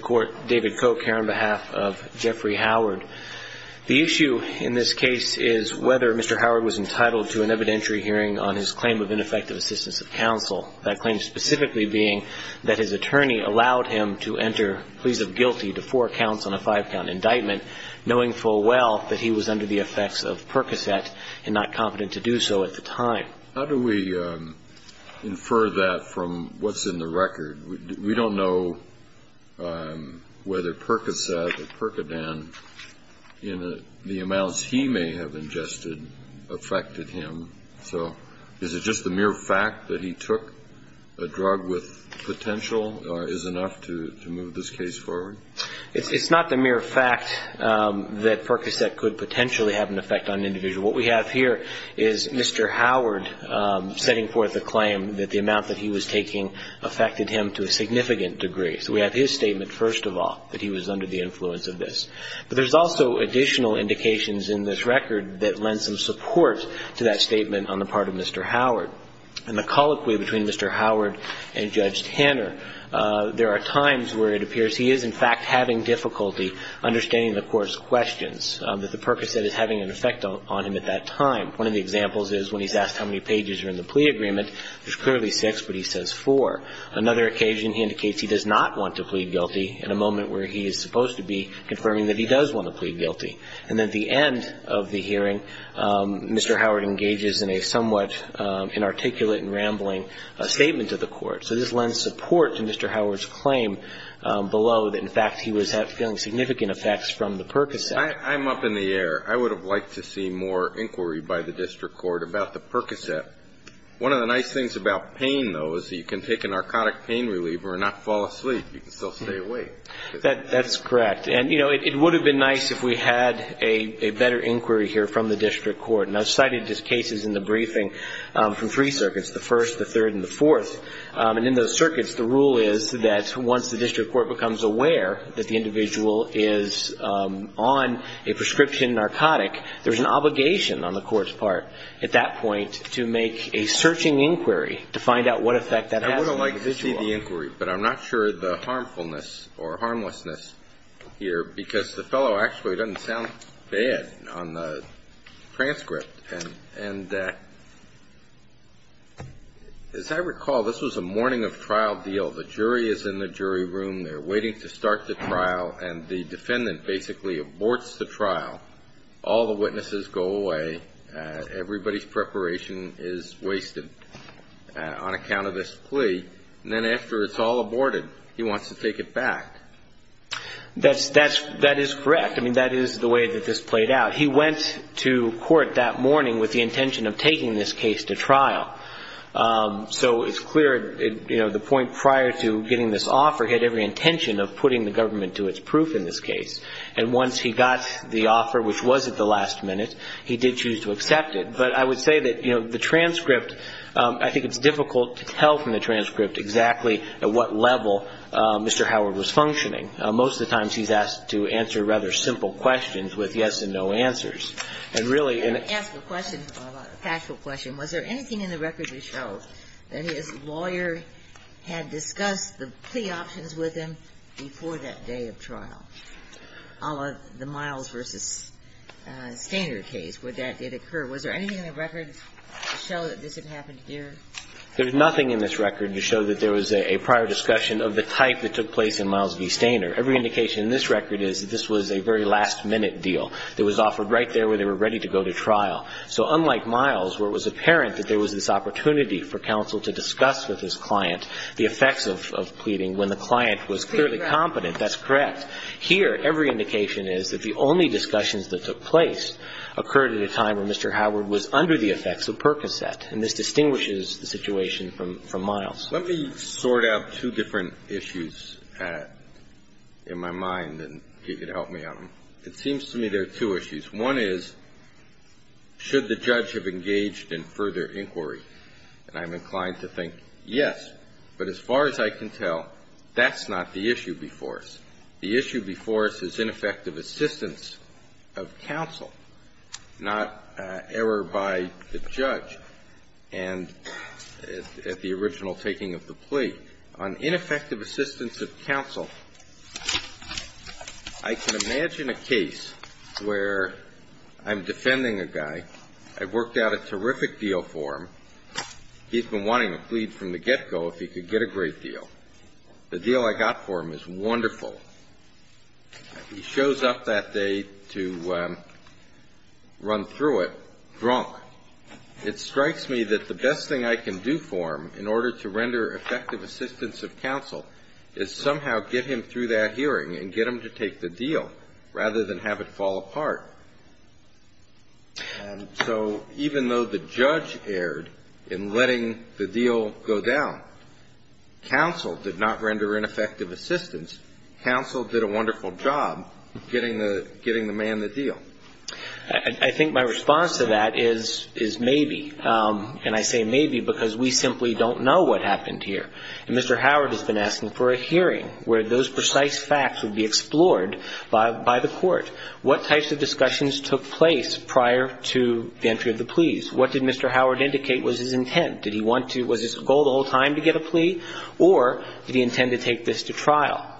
Court, David Koch here on behalf of Jeffrey Howard. The issue in this case is whether Mr. Howard was entitled to an evidentiary hearing on his claim of ineffective assistance of counsel, that claim specifically being that his attorney allowed him to enter pleas of guilty to four counts on a five-count indictment, knowing full well that he was under the effects of Percocet and not competent to do so at the time. How do we infer that from what's in the record? We don't know whether Percocet or Percodan in the amounts he may have ingested affected him. So is it just the mere fact that he took a drug with potential is enough to move this case forward? It's not the mere fact that Percocet could potentially have an effect on an individual. What we have here is Mr. Howard setting forth a claim that the amount that he was taking affected him to a significant degree. So we have his statement, first of all, that he was under the influence of this. But there's also additional indications in this record that lend some support to that statement on the part of Mr. Howard. In the colloquy between Mr. Howard and Judge Tanner, there are times where it appears he is, in fact, having difficulty understanding the Court's questions, that the Percocet is having an effect on him at that time. One of the examples is when he's asked how many pages are in the plea agreement. There's clearly six, but he says four. Another occasion, he indicates he does not want to plead guilty in a moment where he is supposed to be confirming that he does want to plead guilty. And at the end of the hearing, Mr. Howard engages in a somewhat inarticulate and rambling statement to the Court. So this lends support to Mr. Howard's claim below that, in fact, he was feeling significant effects from the Percocet. I'm up in the air. I would have liked to see more inquiry by the District Court about the Percocet. One of the nice things about pain, though, is that you can take a narcotic pain reliever and not fall asleep. You can still stay awake. That's correct. And, you know, it would have been nice if we had a better inquiry here from the District Court. And I've cited these cases in the briefing from three circuits, the first, the third, and the fourth. And in those circuits, the rule is that once the District Court becomes aware that the individual is on a prescription narcotic, there's an obligation on the Court's part at that point to make a searching inquiry to find out what effect that has on the individual. I would have liked to see the inquiry, but I'm not sure the harmfulness or harmlessness here because the fellow actually doesn't sound bad on the transcript. And as I recall, this was a morning of trial deal. The jury is in the jury room. They're waiting to start the trial. And the defendant basically aborts the trial. All the witnesses go away. Everybody's preparation is wasted on account of this plea. And then after it's all aborted, he wants to take it back. That is correct. I mean, that is the way that this played out. He went to court that morning with the intention of taking this case to trial. So it's clear, you know, the point prior to getting this offer, he had every intention of putting the government to its proof in this case. And once he got the offer, which was at the last minute, he did choose to accept it. But I would say that, you know, the transcript, I think it's difficult to tell from the transcript exactly at what level Mr. Howard was functioning. Most of the times, he's asked to answer rather simple questions with yes and no answers. And really in a I'd like to ask a question, Paula, a factual question. Was there anything in the record that showed that his lawyer had discussed the plea options with him before that day of trial, a la the Miles v. Stainer case, where that did occur? Was there anything in the record to show that this had happened here? There's nothing in this record to show that there was a prior discussion of the type that took place in Miles v. Stainer. Every indication in this record is that this was a very last-minute deal that was offered right there where they were ready to go to trial. So unlike Miles, where it was apparent that there was this opportunity for counsel to discuss with his client the effects of pleading when the client was clearly competent, that's correct. Here, every indication is that the only discussions that took place occurred at a time when Mr. Howard was under the effects of Percocet. And this distinguishes the situation from Miles. Let me sort out two different issues in my mind, and if you could help me on them. It seems to me there are two issues. One is, should the judge have engaged in further inquiry? And I'm inclined to think, yes. But as far as I can tell, that's not the issue before us. The issue before us is ineffective assistance of counsel, not error by the judge and at the original taking of the plea. On ineffective assistance of counsel, I can imagine a case where I'm defending a guy. I've worked out a terrific deal for him. He's been wanting a plea from the get-go if he could get a great deal. The deal I got for him is wonderful. He shows up that day to run through it drunk. It strikes me that the best thing I can do for him in order to render effective assistance of counsel is somehow get him through that hearing and get him to take the deal rather than have it fall apart. And so even though the judge erred in letting the deal go down, counsel did not render ineffective assistance. Counsel did a wonderful job getting the man the deal. I think my response to that is maybe. And I say maybe because we simply don't know what Mr. Howard has been asking for a hearing where those precise facts would be explored by the court. What types of discussions took place prior to the entry of the pleas? What did Mr. Howard indicate was his intent? Did he want to, was his goal the whole time to get a plea? Or did he intend to take this to trial?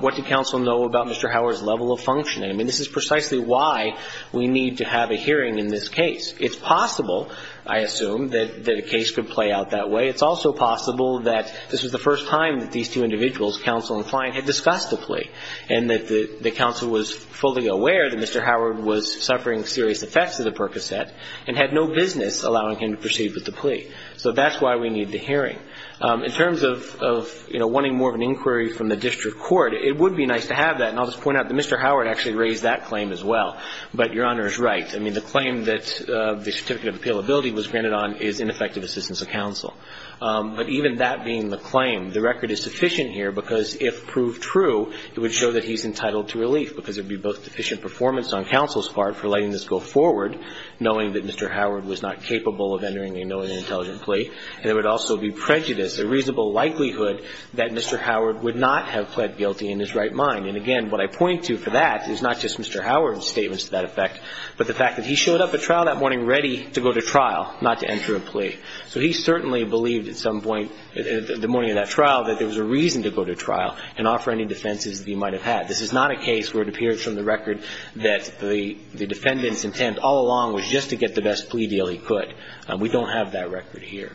What did counsel know about Mr. Howard's level of functioning? I mean, this is precisely why we need to have a hearing in this case. It's possible, I assume, that a case could play out that way. It's also possible that this was the first time that these two individuals, counsel and client, had discussed a plea and that the counsel was fully aware that Mr. Howard was suffering serious effects of the Percocet and had no business allowing him to proceed with the plea. So that's why we need the hearing. In terms of, you know, wanting more of an inquiry from the district court, it would be nice to have that. And I'll just point out that Mr. Howard actually raised that claim as well. But Your Honor is right. I mean, the claim that the certificate of appealability was granted on is ineffective assistance of counsel. But even that being the claim, the record is sufficient here, because if proved true, it would show that he's entitled to relief, because it would be both deficient performance on counsel's part for letting this go forward, knowing that Mr. Howard was not capable of entering a known and intelligent plea, and it would also be prejudice, a reasonable likelihood that Mr. Howard would not have pled guilty in his right mind. And again, what I point to for that is not just Mr. Howard's statements to that effect, but the fact that he showed up at trial that morning ready to go to trial, not to enter a plea. So he certainly believed at some point in the morning of that trial that there was a reason to go to trial and offer any defenses that he might have had. This is not a case where it appears from the record that the defendant's intent all along was just to get the best plea deal he could. We don't have that record here.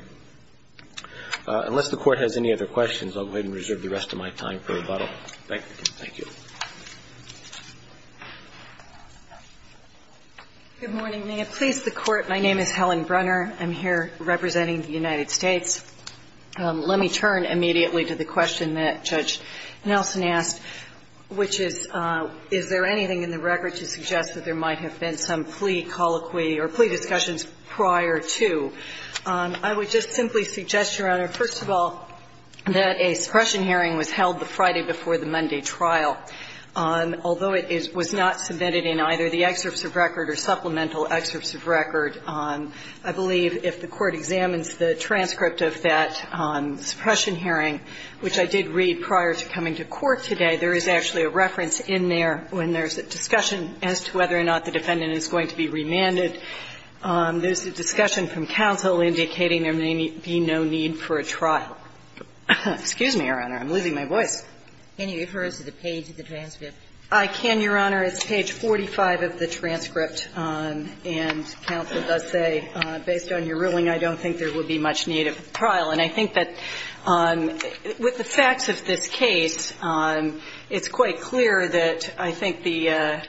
Unless the Court has any other questions, I'll go ahead and reserve the rest of my time for rebuttal. Thank you. Good morning, ma'am. Please, the Court, my name is Helen Brunner. I'm here representing the United States. Let me turn immediately to the question that Judge Nelson asked, which is, is there anything in the record to suggest that there might have been some plea colloquy or plea discussions prior to? I would just simply suggest, Your Honor, first of all, that a suppression hearing was held the Friday before the Monday trial. Although it was not submitted in either the excerpts of record or supplemental excerpts of record, I believe if the Court examines the transcript of that suppression hearing, which I did read prior to coming to court today, there is actually a reference in there when there's a discussion as to whether or not the defendant is going to be remanded. There's a discussion from counsel indicating there may be no need for a trial. Excuse me, Your Honor. I'm losing my voice. Can you refer us to the page of the transcript? I can, Your Honor. It's page 45 of the transcript, and counsel does say, based on your ruling, I don't think there would be much need of a trial. And I think that with the facts of this case, it's quite clear that I think the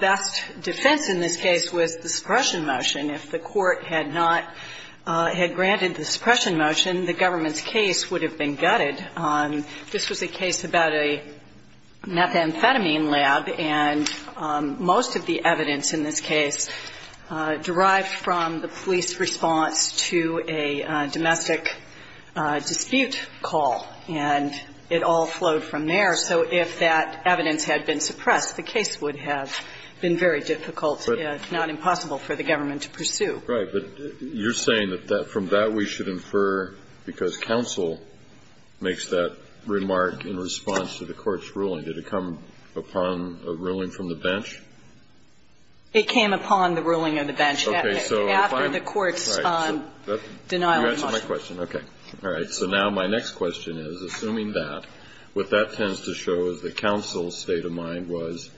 best defense in this case was the suppression motion. If the Court had not had granted the suppression motion, the government's case would have been gutted. This was a case about a methamphetamine lab, and most of the evidence in this case derived from the police response to a domestic dispute call. And it all flowed from there. So if that evidence had been suppressed, the case would have been very difficult, not impossible for the government to pursue. Right. But you're saying that from that we should infer, because counsel makes that remark in response to the Court's ruling. Did it come upon a ruling from the bench? It came upon the ruling of the bench. Okay. So if I'm right, so you answered my question. Okay. All right. So now my next question is, assuming that, what that tends to show is that counsel's mind was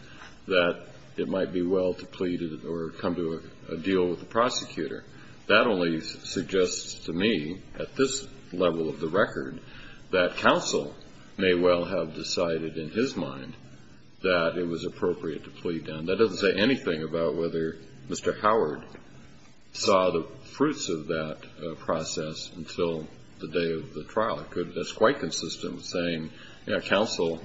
that it might be well to plead or come to a deal with the prosecutor. That only suggests to me, at this level of the record, that counsel may well have decided in his mind that it was appropriate to plead. And that doesn't say anything about whether Mr. Howard saw the fruits of that process until the day of the trial. That's quite consistent with saying, you know, counsel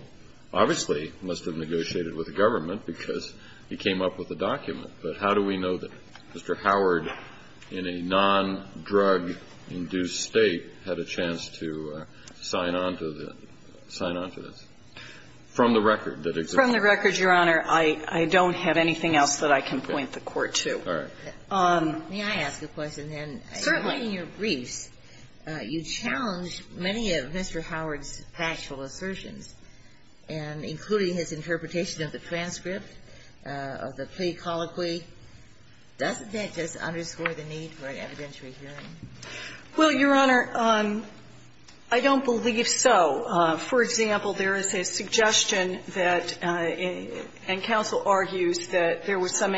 obviously must have negotiated with the government because he came up with the document. But how do we know that Mr. Howard, in a non-drug-induced State, had a chance to sign on to the – sign on to this? From the record, that example. From the record, Your Honor, I don't have anything else that I can point the Court to. All right. May I ask a question, then? Certainly. In your briefs, you challenge many of Mr. Howard's factual assertions, and including his interpretation of the transcript, of the plea colloquy. Doesn't that just underscore the need for an evidentiary hearing? Well, Your Honor, I don't believe so. For example, there is a suggestion that – and counsel argues that there was some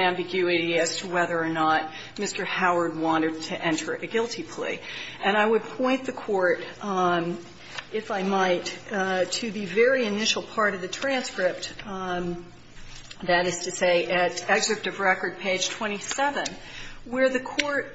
And I would point the Court, if I might, to the very initial part of the transcript, that is to say at excerpt of record, page 27, where the Court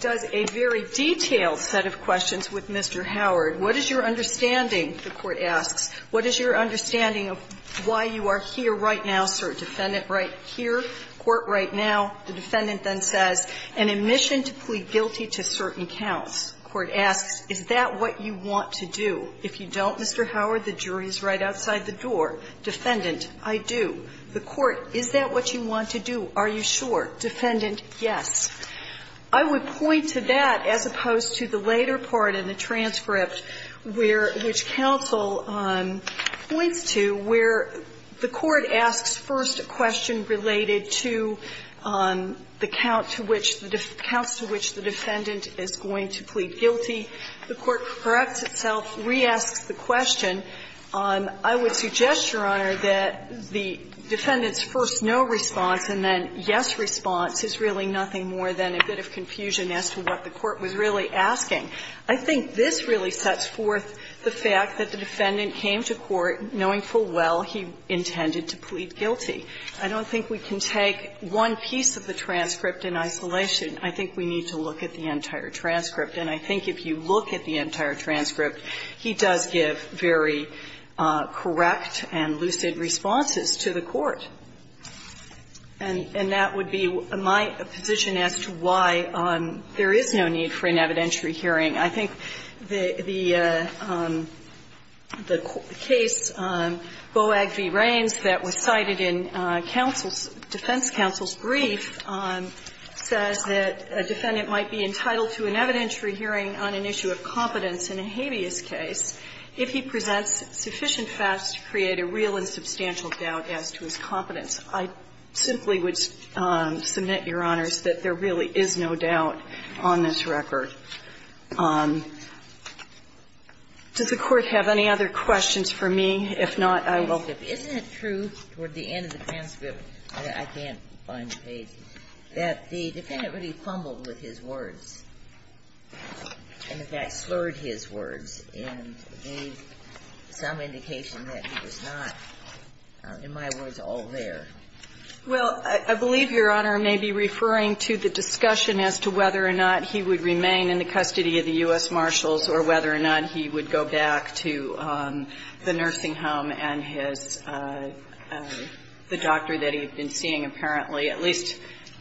does a very detailed set of questions with Mr. Howard. What is your understanding, the Court asks, what is your understanding of why you are here right now, sir, defendant, right here, court, right now? The defendant then says, An admission to plea guilty to certain counts. The Court asks, is that what you want to do? If you don't, Mr. Howard, the jury is right outside the door. Defendant, I do. The Court, is that what you want to do? Are you sure? Defendant, yes. I think what counsel points to, where the Court asks first a question related to the count to which the – counts to which the defendant is going to plead guilty, the Court corrects itself, reasks the question. I would suggest, Your Honor, that the defendant's first no response and then yes response is really nothing more than a bit of confusion as to what the Court was really asking. I think this really sets forth the fact that the defendant came to court knowing full well he intended to plead guilty. I don't think we can take one piece of the transcript in isolation. I think we need to look at the entire transcript. And I think if you look at the entire transcript, he does give very correct and lucid responses to the Court. And that would be my position as to why there is no need for an evidentiary hearing. I think the case, BOAG v. Rains, that was cited in counsel's – defense counsel's brief says that a defendant might be entitled to an evidentiary hearing on an issue of competence in a habeas case if he presents sufficient facts to create a real and substantial doubt as to his competence. I simply would submit, Your Honors, that there really is no doubt on this record. Does the Court have any other questions for me? If not, I will go. Isn't it true toward the end of the transcript, I can't find the page, that the defendant really fumbled with his words and, in fact, slurred his words and gave some indication that he was not, in my words, all there? Well, I believe, Your Honor, I may be referring to the discussion as to whether or not he would remain in the custody of the U.S. Marshals or whether or not he would go back to the nursing home and his – the doctor that he had been seeing, apparently, at least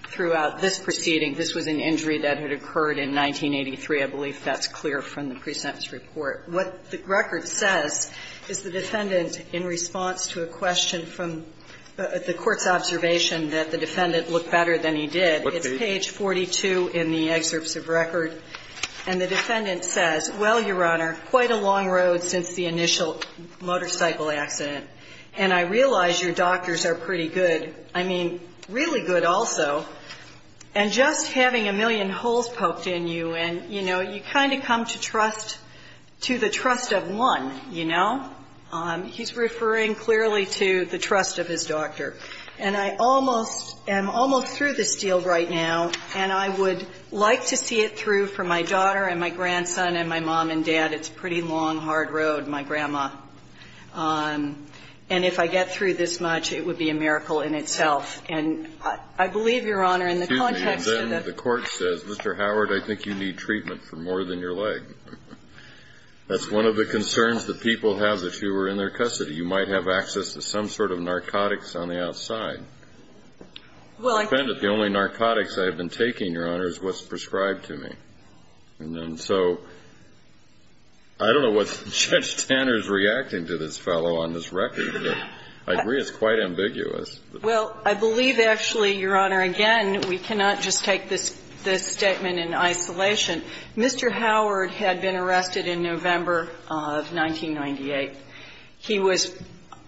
throughout this proceeding. This was an injury that had occurred in 1983. I believe that's clear from the present report. What the record says is the defendant, in response to a question from the Court's observation that the defendant looked better than he did, it's page 42 in the Executive Service of Record, and the defendant says, well, Your Honor, quite a long road since the initial motorcycle accident, and I realize your doctors are pretty good, I mean, really good also, and just having a million holes poked in you and, you know, you kind of come to trust – to the trust of one, you know? He's referring clearly to the trust of his doctor. And I almost – am almost through this deal right now, and I would like to see it through for my daughter and my grandson and my mom and dad. It's a pretty long, hard road, my grandma. And if I get through this much, it would be a miracle in itself. And I believe, Your Honor, in the context of the – The court says, Mr. Howard, I think you need treatment for more than your leg. That's one of the concerns that people have if you were in their custody. You might have access to some sort of narcotics on the outside. Well, I can't – The only narcotics I have been taking, Your Honor, is what's prescribed to me. And so I don't know what Judge Tanner is reacting to this fellow on this record, but I agree it's quite ambiguous. Well, I believe, actually, Your Honor, again, we cannot just take this – this statement in isolation. Mr. Howard had been arrested in November of 1998. He was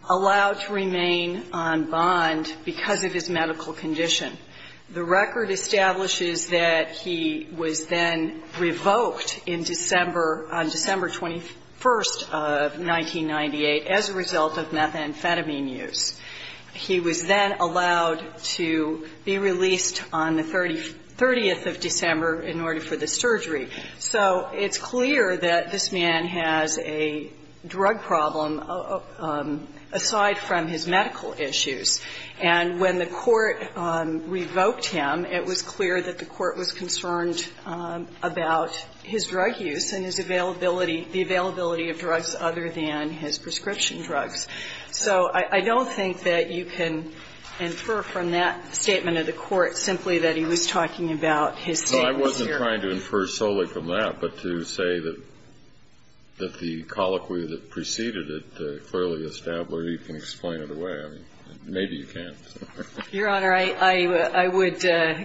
allowed to remain on bond because of his medical condition. The record establishes that he was then revoked in December – on December 21st of 1998 as a result of methamphetamine use. He was then allowed to be released on the 30th of December in order for the surgery. So it's clear that this man has a drug problem aside from his medical issues. And when the court revoked him, it was clear that the court was concerned about his drug use and his availability – the availability of drugs other than his prescription drugs. So I don't think that you can infer from that statement of the court simply that he was talking about his statement here. I'm not trying to infer solely from that, but to say that the colloquy that preceded it clearly established, you can explain it away. I mean, maybe you can't. Your Honor, I would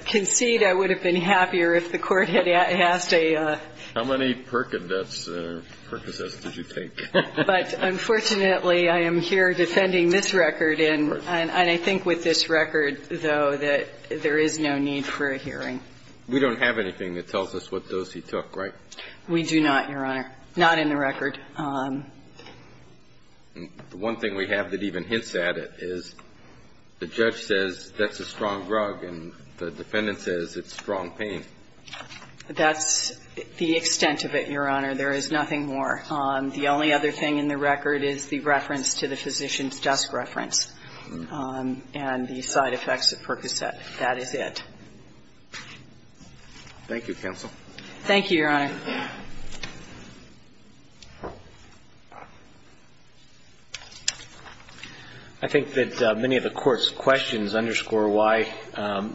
concede I would have been happier if the court had asked a – How many Percocets did you take? But unfortunately, I am here defending this record, and I think with this record, though, that there is no need for a hearing. We don't have anything that tells us what dose he took, right? We do not, Your Honor. Not in the record. The one thing we have that even hints at it is the judge says that's a strong drug, and the defendant says it's strong pain. That's the extent of it, Your Honor. There is nothing more. The only other thing in the record is the reference to the physician's desk reference and the side effects of Percocet. That is it. Thank you, counsel. Thank you, Your Honor. I think that many of the Court's questions underscore why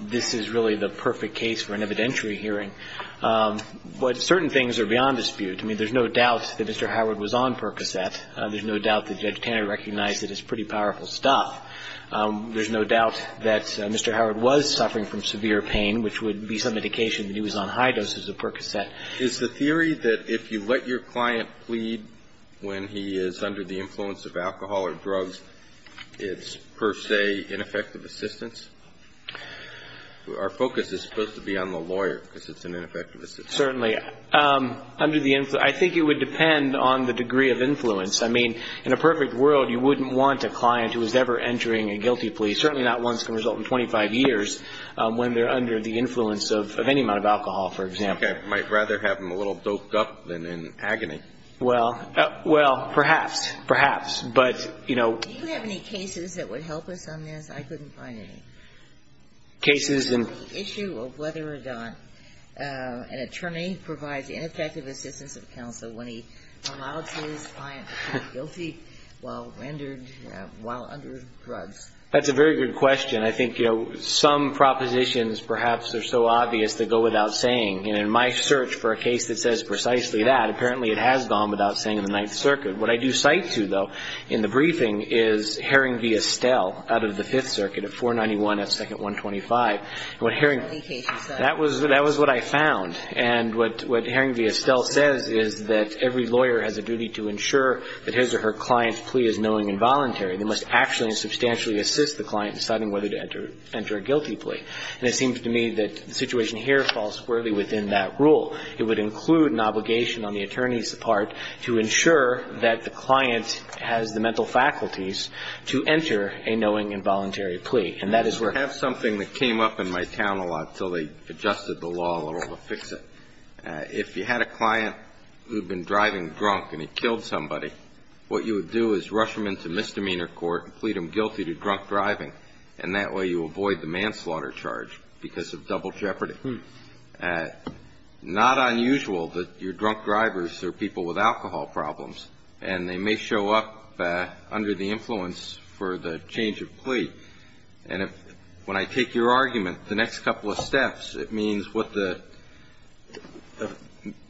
this is really the perfect case for an evidentiary hearing. But certain things are beyond dispute. I mean, there's no doubt that Mr. Howard was on Percocet. There's no doubt that Judge Tanner recognized that it's pretty powerful stuff. There's no doubt that Mr. Howard was suffering from severe pain, which would be some indication that he was on high doses of Percocet. Is the theory that if you let your client plead when he is under the influence of alcohol or drugs, it's per se ineffective assistance? Our focus is supposed to be on the lawyer because it's an ineffective assistance. Certainly. Under the influence. I think it would depend on the degree of influence. I mean, in a perfect world, you wouldn't want a client who was ever entering a guilty plea. Certainly not ones that can result in 25 years when they're under the influence of any amount of alcohol, for example. Okay. I might rather have them a little doped up than in agony. Well, perhaps. Perhaps. But, you know. Do you have any cases that would help us on this? I couldn't find any. Cases in. The issue of whether or not an attorney provides ineffective assistance of counsel when he promulgates his client to plead guilty while rendered, while under drugs. That's a very good question. I think, you know, some propositions perhaps are so obvious they go without saying. And in my search for a case that says precisely that, apparently it has gone without saying in the Ninth Circuit. What I do cite to, though, in the briefing is Herring v. Estelle out of the Fifth Circuit at 491 at 2nd 125. And what Herring. That was what I found. And what Herring v. Estelle says is that every lawyer has a duty to ensure that his or her client's plea is knowing and voluntary. They must actually and substantially assist the client in deciding whether to enter a guilty plea. And it seems to me that the situation here falls squarely within that rule. It would include an obligation on the attorney's part to ensure that the client has the mental faculties to enter a knowing and voluntary plea. And that is where. I have something that came up in my town a lot until they adjusted the law a little to fix it. If you had a client who had been driving drunk and he killed somebody, what you would do is rush him into misdemeanor court and plead him guilty to drunk driving. And that way you avoid the manslaughter charge because of double jeopardy. Not unusual that your drunk drivers are people with alcohol problems. And when I take your argument, the next couple of steps, it means what the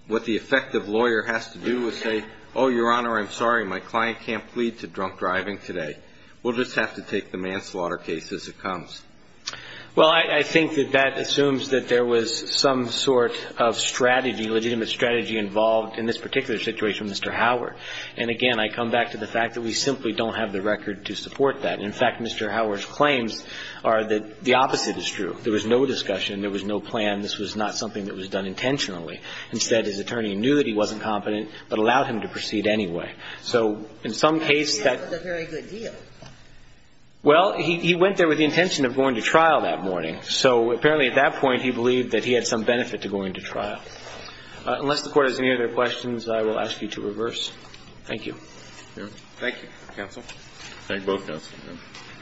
effective lawyer has to do is say, oh, Your Honor, I'm sorry, my client can't plead to drunk driving today. We'll just have to take the manslaughter case as it comes. Well, I think that that assumes that there was some sort of strategy, legitimate strategy involved in this particular situation with Mr. Howard. And, again, I come back to the fact that we simply don't have the record to support that. And, in fact, Mr. Howard's claims are that the opposite is true. There was no discussion. There was no plan. This was not something that was done intentionally. Instead, his attorney knew that he wasn't competent but allowed him to proceed anyway. So in some case, that's the very good deal. Well, he went there with the intention of going to trial that morning. So apparently at that point he believed that he had some benefit to going to trial. Unless the Court has any other questions, I will ask you to reverse. Thank you. Thank you. Counsel? Thank both counsels. Senator?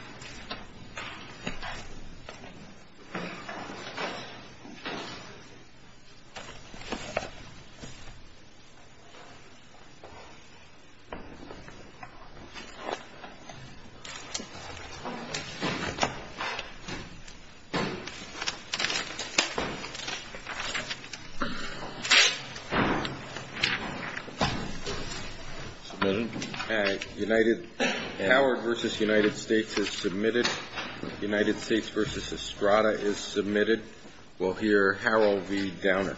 I have a motion. All right. Howard v. United States is submitted. United States v. Estrada is submitted. We'll hear Harold V. Downer.